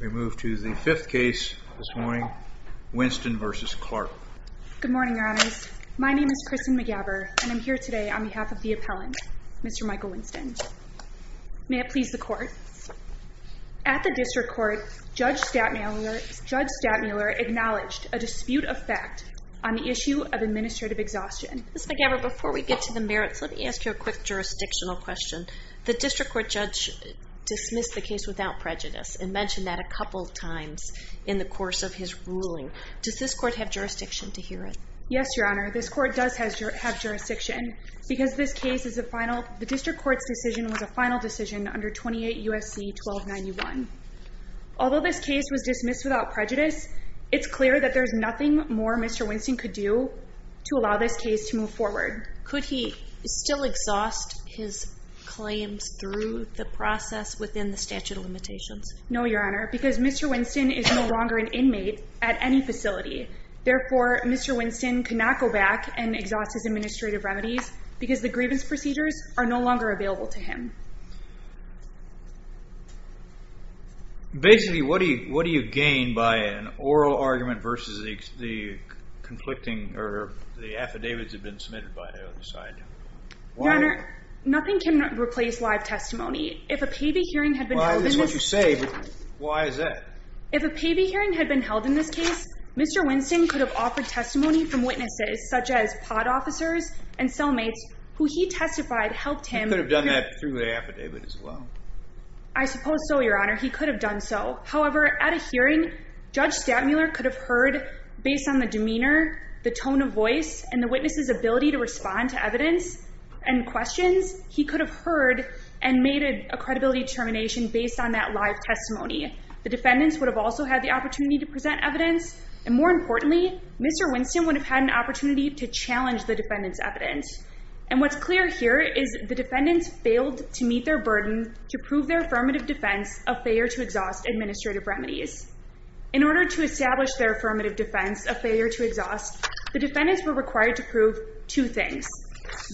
We move to the fifth case this morning, Winston v. Clarke. Good morning, Your Honors. My name is Kristen McGabber, and I'm here today on behalf of the appellant, Mr. Michael Winston. May it please the Court. At the District Court, Judge Stadtmuller acknowledged a dispute of fact on the issue of administrative exhaustion. Ms. McGabber, before we get to the merits, let me ask you a quick jurisdictional question. The District Court judge dismissed the case without prejudice and mentioned that a couple of times in the course of his ruling. Does this Court have jurisdiction to hear it? Yes, Your Honor. This Court does have jurisdiction because this case is a final – the District Court's decision was a final decision under 28 U.S.C. 1291. Although this case was dismissed without prejudice, it's clear that there's nothing more Mr. Winston could do to allow this case to move forward. Could he still exhaust his claims through the process within the statute of limitations? No, Your Honor, because Mr. Winston is no longer an inmate at any facility. Therefore, Mr. Winston cannot go back and exhaust his administrative remedies because the grievance procedures are no longer available to him. Basically, what do you gain by an oral argument versus the conflicting – or the affidavits that have been submitted by the other side? Your Honor, nothing can replace live testimony. If a paybee hearing had been held in this case – Well, I understand what you're saying, but why is that? If a paybee hearing had been held in this case, Mr. Winston could have offered testimony from witnesses such as pod officers and cellmates who he testified helped him – He could have done that through the affidavit as well. I suppose so, Your Honor. He could have done so. However, at a hearing, Judge Stattmuller could have heard, based on the demeanor, the tone of voice, and the witness' ability to respond to evidence and questions, he could have heard and made a credibility determination based on that live testimony. The defendants would have also had the opportunity to present evidence. And more importantly, Mr. Winston would have had an opportunity to challenge the defendant's evidence. And what's clear here is the defendants failed to meet their burden to prove their affirmative defense of failure to exhaust administrative remedies. In order to establish their affirmative defense of failure to exhaust, the defendants were required to prove two things.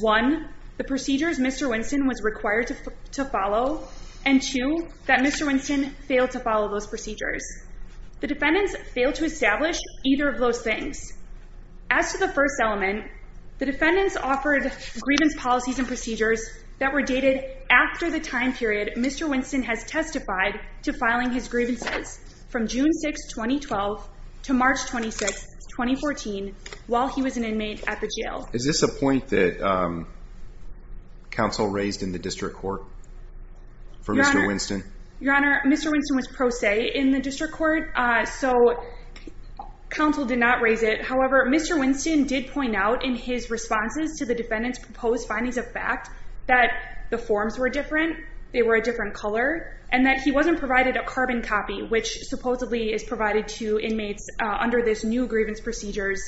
One, the procedures Mr. Winston was required to follow. And two, that Mr. Winston failed to follow those procedures. The defendants failed to establish either of those things. As to the first element, the defendants offered grievance policies and procedures that were dated after the time period Mr. Winston has testified to filing his grievances, from June 6, 2012 to March 26, 2014, while he was an inmate at the jail. Is this a point that counsel raised in the district court for Mr. Winston? Your Honor, Mr. Winston was pro se in the district court, so counsel did not raise it. However, Mr. Winston did point out in his responses to the defendants' proposed findings of fact that the forms were different, they were a different color, and that he wasn't provided a carbon copy, which supposedly is provided to inmates under this new grievance procedures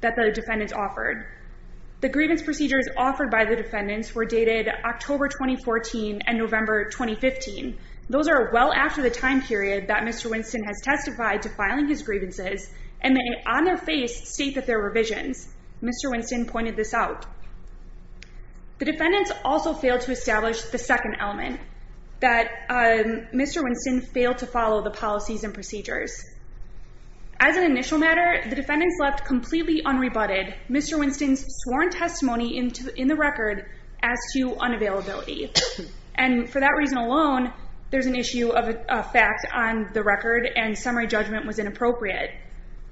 that the defendants offered. The grievance procedures offered by the defendants were dated October 2014 and November 2015. Those are well after the time period that Mr. Winston has testified to filing his grievances, and they on their face state that there were revisions. Mr. Winston pointed this out. The defendants also failed to establish the second element, that Mr. Winston failed to follow the policies and procedures. As an initial matter, the defendants left completely unrebutted Mr. Winston's sworn testimony in the record as to unavailability. And for that reason alone, there's an issue of a fact on the record and summary judgment was inappropriate.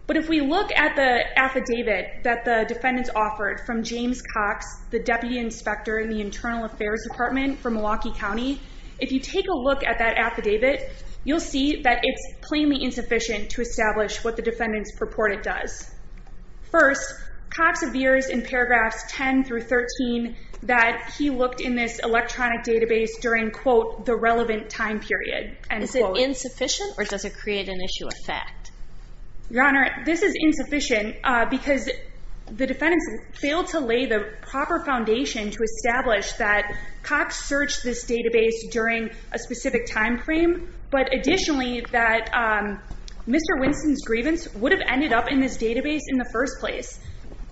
But if we look at the affidavit that the defendants offered from James Cox, the deputy inspector in the Internal Affairs Department for Milwaukee County, if you take a look at that affidavit, you'll see that it's plainly insufficient to establish what the defendants purport it does. First, Cox appears in paragraphs 10 through 13 that he looked in this electronic database during, quote, the relevant time period, end quote. Is it insufficient or does it create an issue of fact? Your Honor, this is insufficient because the defendants failed to lay the proper foundation to establish that Cox searched this database during a specific time frame, but additionally that Mr. Winston's grievance would have ended up in this database in the first place.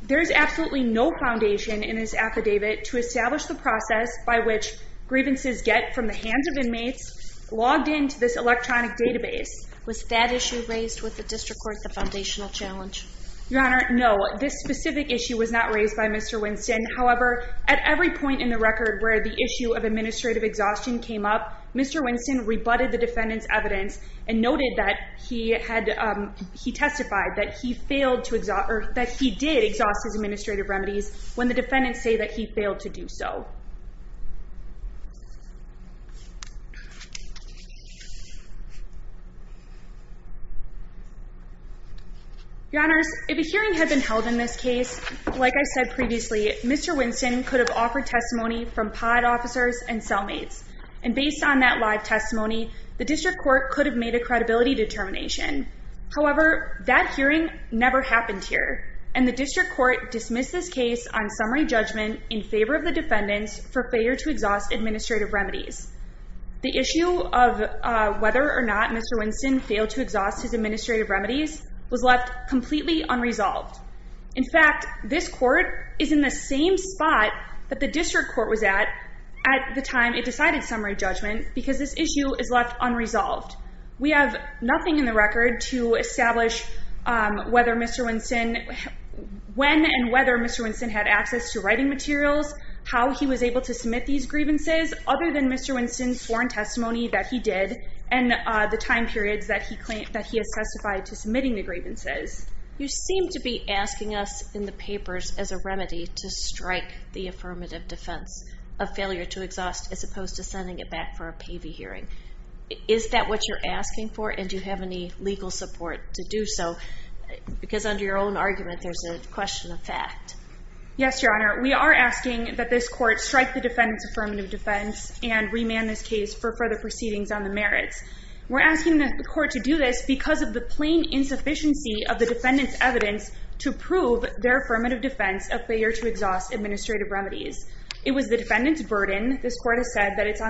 There is absolutely no foundation in this affidavit to establish the process by which grievances get from the hands of inmates logged into this electronic database. Was that issue raised with the district court at the foundational challenge? Your Honor, no. This specific issue was not raised by Mr. Winston. However, at every point in the record where the issue of administrative exhaustion came up, Mr. Winston rebutted the defendants' evidence and noted that he testified that he did exhaust his administrative remedies when the defendants say that he failed to do so. Your Honors, if a hearing had been held in this case, like I said previously, Mr. Winston could have offered testimony from pod officers and cellmates, and based on that live testimony, the district court could have made a credibility determination. However, that hearing never happened here, and the district court dismissed this case on summary judgment in favor of the defendants for failure to exhaust administrative remedies. The issue of whether or not Mr. Winston failed to exhaust his administrative remedies was left completely unresolved. In fact, this court is in the same spot that the district court was at at the time it decided summary judgment because this issue is left unresolved. We have nothing in the record to establish when and whether Mr. Winston had access to writing materials, how he was able to submit these grievances, other than Mr. Winston's sworn testimony that he did, and the time periods that he has testified to submitting the grievances. You seem to be asking us in the papers as a remedy to strike the affirmative defense of failure to exhaust as opposed to sending it back for a pavey hearing. Is that what you're asking for, and do you have any legal support to do so? Because under your own argument, there's a question of fact. Yes, Your Honor, we are asking that this court strike the defendant's affirmative defense and remand this case for further proceedings on the merits. We're asking the court to do this because of the plain insufficiency of the defendant's evidence to prove their affirmative defense of failure to exhaust administrative remedies. It was the defendant's burden. This court has said that it's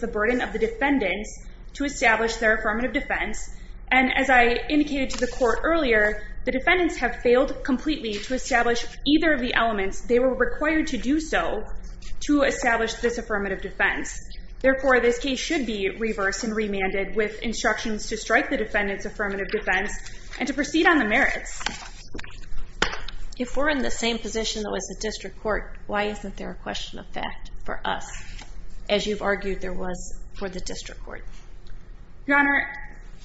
the burden of the defendants to establish their affirmative defense, and as I indicated to the court earlier, the defendants have failed completely to establish either of the elements they were required to do so to establish this affirmative defense. Therefore, this case should be reversed and remanded with instructions to strike the defendant's affirmative defense and to proceed on the merits. If we're in the same position that was the district court, why isn't there a question of fact for us as you've argued there was for the district court? Your Honor,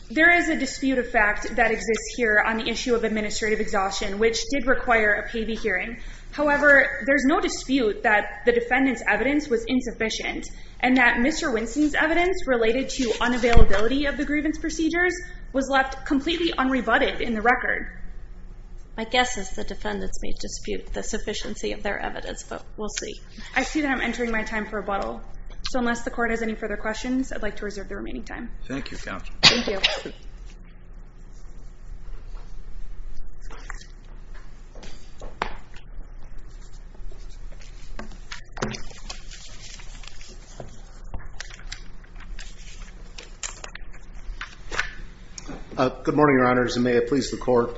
there is a dispute of fact that exists here on the issue of administrative exhaustion, which did require a pavey hearing. However, there's no dispute that the defendant's evidence was insufficient and that Mr. Winston's evidence related to unavailability of the grievance procedures was left completely unrebutted in the record. My guess is the defendants made dispute the sufficiency of their evidence, but we'll see. I see that I'm entering my time for rebuttal. So unless the court has any further questions, I'd like to reserve the remaining time. Thank you, counsel. Thank you. Good morning, Your Honors, and may it please the court.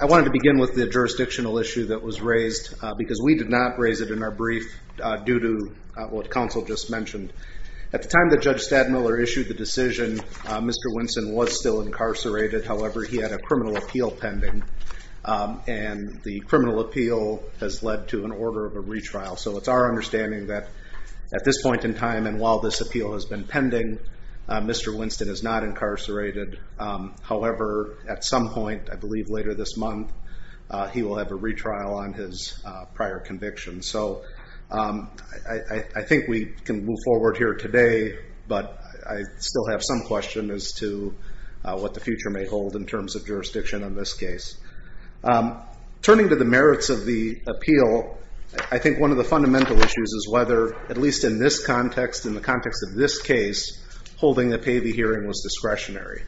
I wanted to begin with the jurisdictional issue that was raised because we did not raise it in our brief due to what counsel just mentioned. At the time that Judge Stadmiller issued the decision, Mr. Winston was still incarcerated. However, he had a criminal appeal pending, and the criminal appeal has led to an order of a retrial. So it's our understanding that at this point in time and while this appeal has been pending, Mr. Winston is not incarcerated. However, at some point, I believe later this month, he will have a retrial on his prior conviction. So I think we can move forward here today, but I still have some question as to what the future may hold in terms of jurisdiction in this case. Turning to the merits of the appeal, I think one of the fundamental issues is whether, at least in this context, in the context of this case, holding a pavy hearing was discretionary.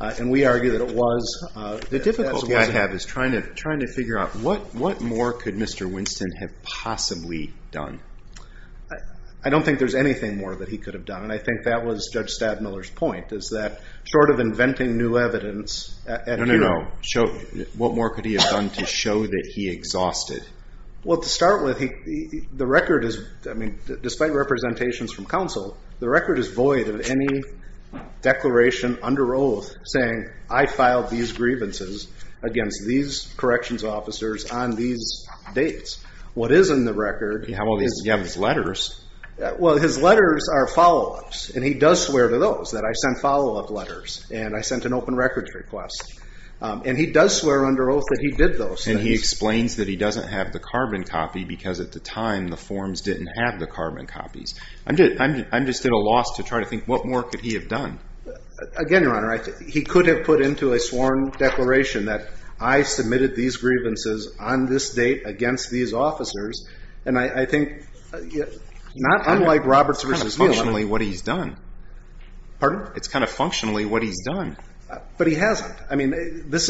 And we argue that it was. The difficulty I have is trying to figure out what more could Mr. Winston have possibly done? I don't think there's anything more that he could have done, and I think that was Judge Stadmiller's point, is that short of inventing new evidence at hearing. No, no, no. What more could he have done to show that he exhausted? Well, to start with, the record is, I mean, despite representations from counsel, the record is void of any declaration under oath saying, I filed these grievances against these corrections officers on these dates. What is in the record is. You have all these letters. Well, his letters are follow-ups, and he does swear to those, that I sent follow-up letters and I sent an open records request. And he does swear under oath that he did those things. And he explains that he doesn't have the carbon copy because at the time the forms didn't have the carbon copies. I'm just at a loss to try to think, what more could he have done? Again, Your Honor, he could have put into a sworn declaration that I submitted these grievances on this date against these officers. And I think, not unlike Roberts versus Neal. It's kind of functionally what he's done. Pardon? It's kind of functionally what he's done. But he hasn't. I mean, there's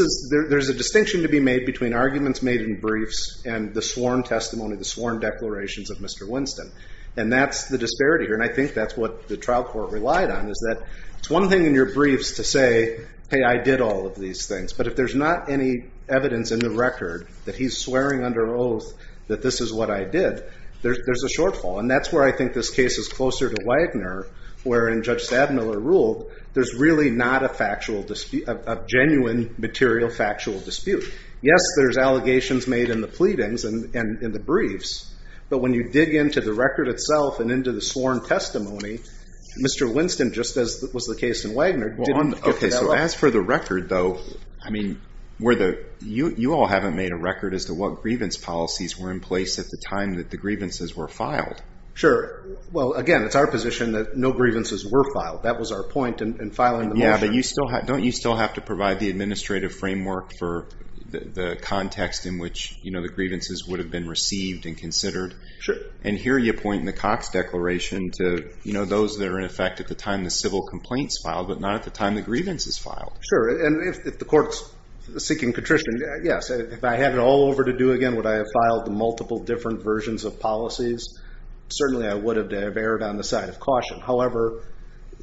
a distinction to be made between arguments made in briefs and the sworn testimony, the sworn declarations of Mr. Winston. And that's the disparity here, and I think that's what the trial court relied on, is that it's one thing in your briefs to say, hey, I did all of these things. But if there's not any evidence in the record that he's swearing under oath that this is what I did, there's a shortfall. And that's where I think this case is closer to Wagner, wherein Judge Stadmiller ruled there's really not a genuine, material, factual dispute. Yes, there's allegations made in the pleadings and in the briefs. But when you dig into the record itself and into the sworn testimony, Mr. Winston, just as was the case in Wagner, As for the record, though, you all haven't made a record as to what grievance policies were in place at the time that the grievances were filed. Sure. Well, again, it's our position that no grievances were filed. That was our point in filing the motion. Yeah, but don't you still have to provide the administrative framework for the context in which the grievances would have been received and considered? Sure. And here you point in the Cox Declaration to those that are in effect at the time the civil complaints filed, but not at the time the grievances filed. Sure. And if the court's seeking contrition, yes. If I had it all over to do again, would I have filed multiple different versions of policies? Certainly I would have to have erred on the side of caution. However,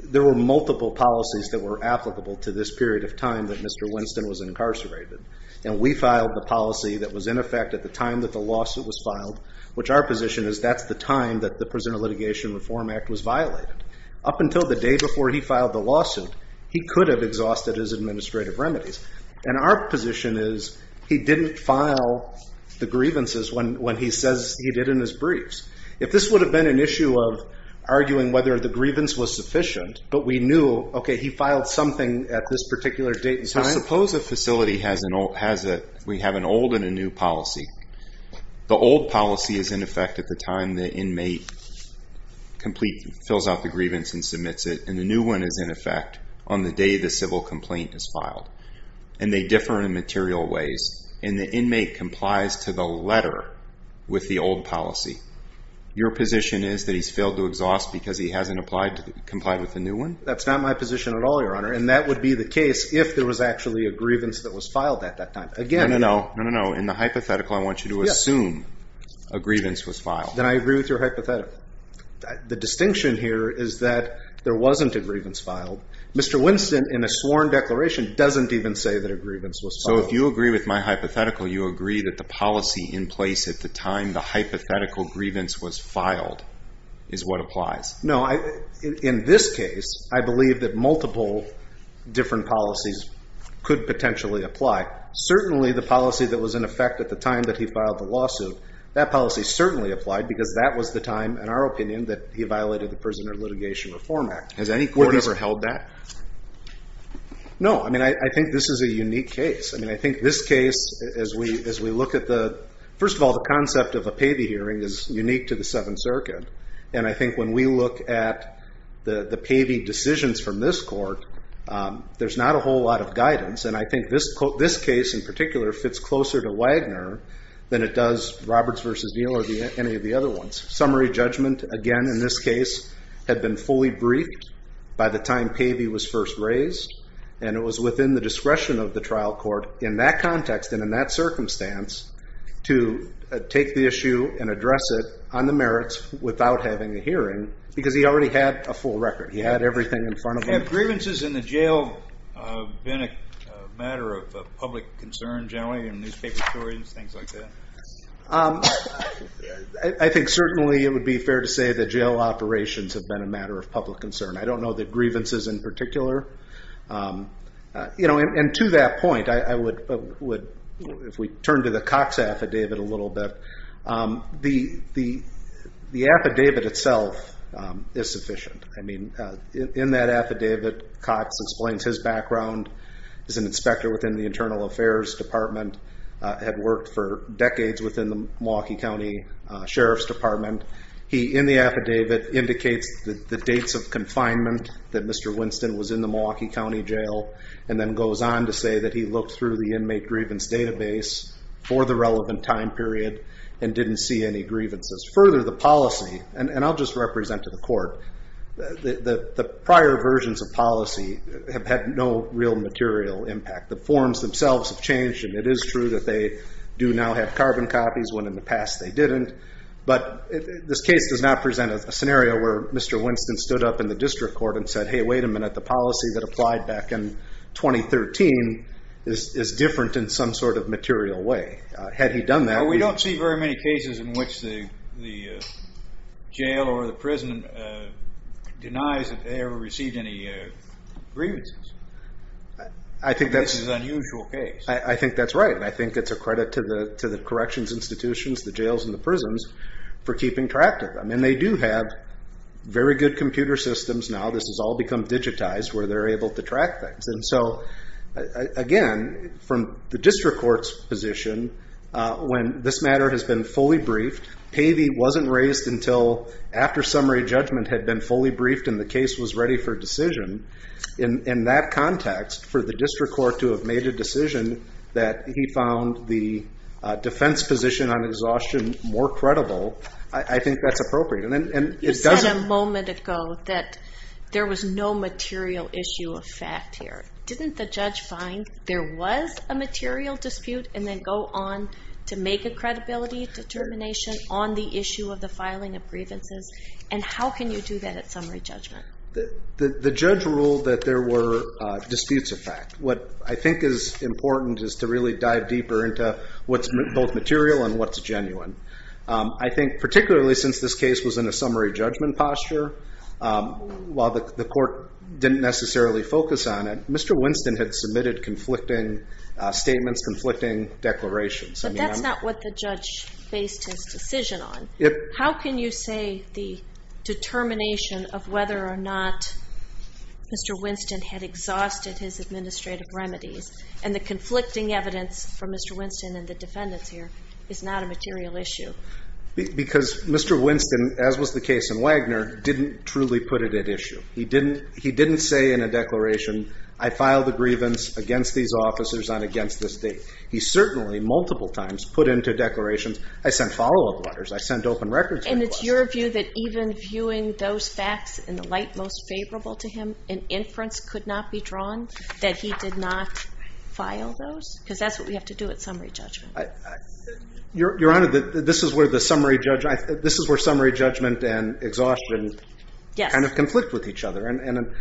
there were multiple policies that were applicable to this period of time that Mr. Winston was incarcerated. And we filed the policy that was in effect at the time that the lawsuit was filed, which our position is that's the time that the Prisoner Litigation Reform Act was violated. Up until the day before he filed the lawsuit, he could have exhausted his administrative remedies. And our position is he didn't file the grievances when he says he did in his briefs. If this would have been an issue of arguing whether the grievance was sufficient, but we knew, okay, he filed something at this particular date and time. Suppose a facility has an old and a new policy. The old policy is in effect at the time the inmate fills out the grievance and submits it. And the new one is in effect on the day the civil complaint is filed. And they differ in material ways. And the inmate complies to the letter with the old policy. Your position is that he's failed to exhaust because he hasn't complied with the new one? That's not my position at all, Your Honor. And that would be the case if there was actually a grievance that was filed at that time. No, no, no. In the hypothetical, I want you to assume a grievance was filed. Then I agree with your hypothetical. The distinction here is that there wasn't a grievance filed. Mr. Winston, in a sworn declaration, doesn't even say that a grievance was filed. So if you agree with my hypothetical, you agree that the policy in place at the time the hypothetical grievance was filed is what applies? No. In this case, I believe that multiple different policies could potentially apply. Certainly the policy that was in effect at the time that he filed the lawsuit, that policy certainly applied because that was the time, in our opinion, that he violated the Prisoner Litigation Reform Act. Has any court ever held that? No. I mean, I think this is a unique case. I mean, I think this case, as we look at the first of all, the concept of a payee hearing is unique to the Seventh Circuit. And I think when we look at the payee decisions from this court, there's not a whole lot of guidance. And I think this case, in particular, fits closer to Wagner than it does Roberts v. Neal or any of the other ones. Summary judgment, again, in this case, had been fully briefed by the time payee was first raised. And it was within the discretion of the trial court in that context and in that circumstance to take the issue and address it on the merits without having a hearing because he already had a full record. He had everything in front of him. Have grievances in the jail been a matter of public concern generally in newspaper stories and things like that? I think certainly it would be fair to say that jail operations have been a matter of public concern. I don't know the grievances in particular. And to that point, if we turn to the Cox affidavit a little bit, the affidavit itself is sufficient. In that affidavit, Cox explains his background as an inspector within the Internal Affairs Department, had worked for decades within the Milwaukee County Sheriff's Department. He, in the affidavit, indicates the dates of confinement that Mr. Winston was in the Milwaukee County Jail and then goes on to say that he looked through the inmate grievance database for the relevant time period and didn't see any grievances. Further, the policy, and I'll just represent to the court, the prior versions of policy have had no real material impact. The forms themselves have changed, and it is true that they do now have carbon copies when in the past they didn't. But this case does not present a scenario where Mr. Winston stood up in the district court and said, hey, wait a minute. The policy that applied back in 2013 is different in some sort of material way. Had he done that- We don't see very many cases in which the jail or the prison denies that they ever received any grievances. I think that's- This is an unusual case. I think that's right. I think it's a credit to the corrections institutions, the jails and the prisons, for keeping track of them. And they do have very good computer systems now. This has all become digitized where they're able to track things. And so, again, from the district court's position, when this matter has been fully briefed, Pavey wasn't raised until after summary judgment had been fully briefed and the case was ready for decision. In that context, for the district court to have made a decision that he found the defense position on exhaustion more credible, I think that's appropriate. And it doesn't- You said a moment ago that there was no material issue of fact here. Didn't the judge find there was a material dispute and then go on to make a credibility determination on the issue of the filing of grievances? And how can you do that at summary judgment? The judge ruled that there were disputes of fact. What I think is important is to really dive deeper into what's both material and what's genuine. I think particularly since this case was in a summary judgment posture, while the court didn't necessarily focus on it, Mr. Winston had submitted conflicting statements, conflicting declarations. But that's not what the judge based his decision on. How can you say the determination of whether or not Mr. Winston had exhausted his administrative remedies and the conflicting evidence from Mr. Winston and the defendants here is not a material issue? Because Mr. Winston, as was the case in Wagner, didn't truly put it at issue. He didn't say in a declaration, I filed a grievance against these officers and against this date. He certainly, multiple times, put into declarations, I sent follow-up letters, I sent open records requests. And it's your view that even viewing those facts in the light most favorable to him, an inference could not be drawn that he did not file those? Because that's what we have to do at summary judgment. Your Honor, this is where the summary judgment and exhaustion kind of conflict with each other.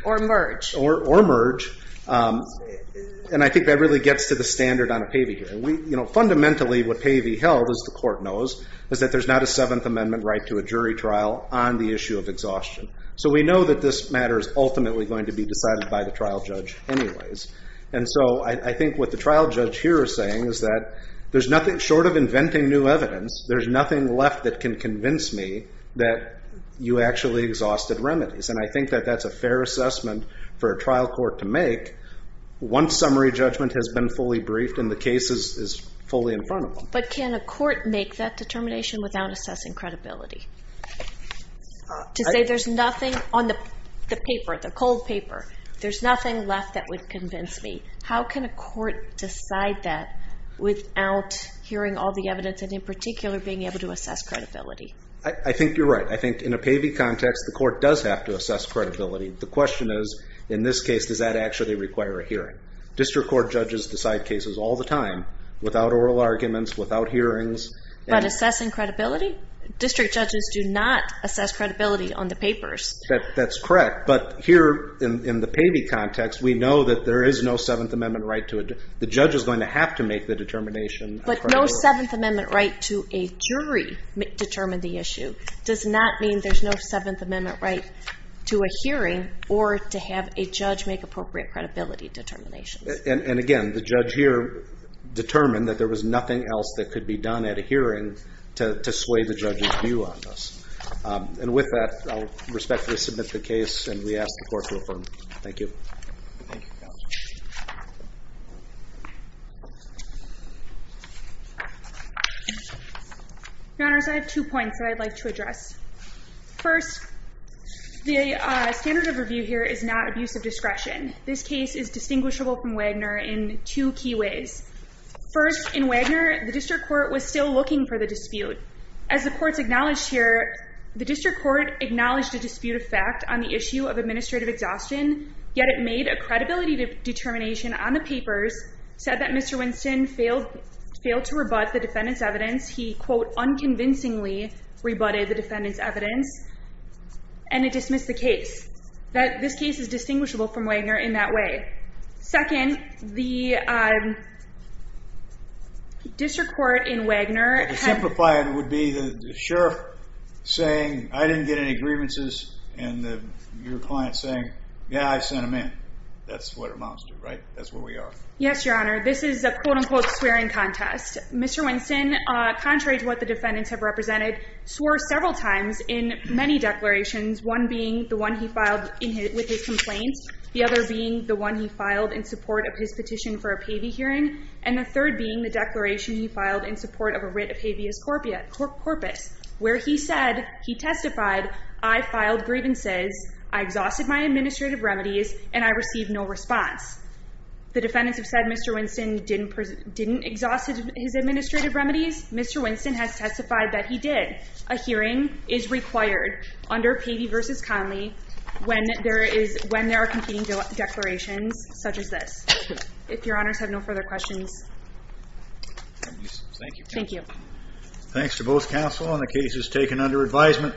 Or merge. Or merge. And I think that really gets to the standard on a Pavey hearing. Fundamentally, what Pavey held, as the Court knows, is that there's not a Seventh Amendment right to a jury trial on the issue of exhaustion. So we know that this matter is ultimately going to be decided by the trial judge anyways. And so I think what the trial judge here is saying is that short of inventing new evidence, there's nothing left that can convince me that you actually exhausted remedies. And I think that that's a fair assessment for a trial court to make once summary judgment has been fully briefed and the case is fully in front of them. But can a court make that determination without assessing credibility? To say there's nothing on the paper, the cold paper. There's nothing left that would convince me. How can a court decide that without hearing all the evidence and in particular being able to assess credibility? I think you're right. I think in a Pavey context, the court does have to assess credibility. The question is, in this case, does that actually require a hearing? District court judges decide cases all the time without oral arguments, without hearings. But assessing credibility? District judges do not assess credibility on the papers. That's correct. But here in the Pavey context, we know that there is no Seventh Amendment right to it. The judge is going to have to make the determination. But no Seventh Amendment right to a jury determined the issue does not mean there's no Seventh Amendment right to a hearing or to have a judge make appropriate credibility determinations. And again, the judge here determined that there was nothing else that could be done at a hearing to sway the judge's view on this. And with that, I'll respectfully submit the case and we ask the court to affirm. Thank you. Thank you, counsel. Your Honors, I have two points that I'd like to address. First, the standard of review here is not abuse of discretion. This case is distinguishable from Wagner in two key ways. First, in Wagner, the district court was still looking for the dispute. As the courts acknowledged here, the district court acknowledged a dispute of fact on the issue of administrative exhaustion, yet it made a credibility determination on the papers, said that Mr. Winston failed to rebut the defendant's evidence. He, quote, unconvincingly rebutted the defendant's evidence, and it dismissed the case. This case is distinguishable from Wagner in that way. Second, the district court in Wagner had- Yeah, I sent him in. That's what our moms do, right? That's what we are. Yes, Your Honor. This is a, quote, unquote, swearing contest. Mr. Winston, contrary to what the defendants have represented, swore several times in many declarations, one being the one he filed with his complaints, the other being the one he filed in support of his petition for a Pavey hearing, and the third being the declaration he filed in support of a writ of habeas corpus where he said, he testified, I filed grievances, I exhausted my administrative remedies, and I received no response. The defendants have said Mr. Winston didn't exhaust his administrative remedies. Mr. Winston has testified that he did. A hearing is required under Pavey v. Conley when there are competing declarations such as this. If Your Honors have no further questions. Thank you. Thank you. Thanks to both counsel on the cases taken under advisement.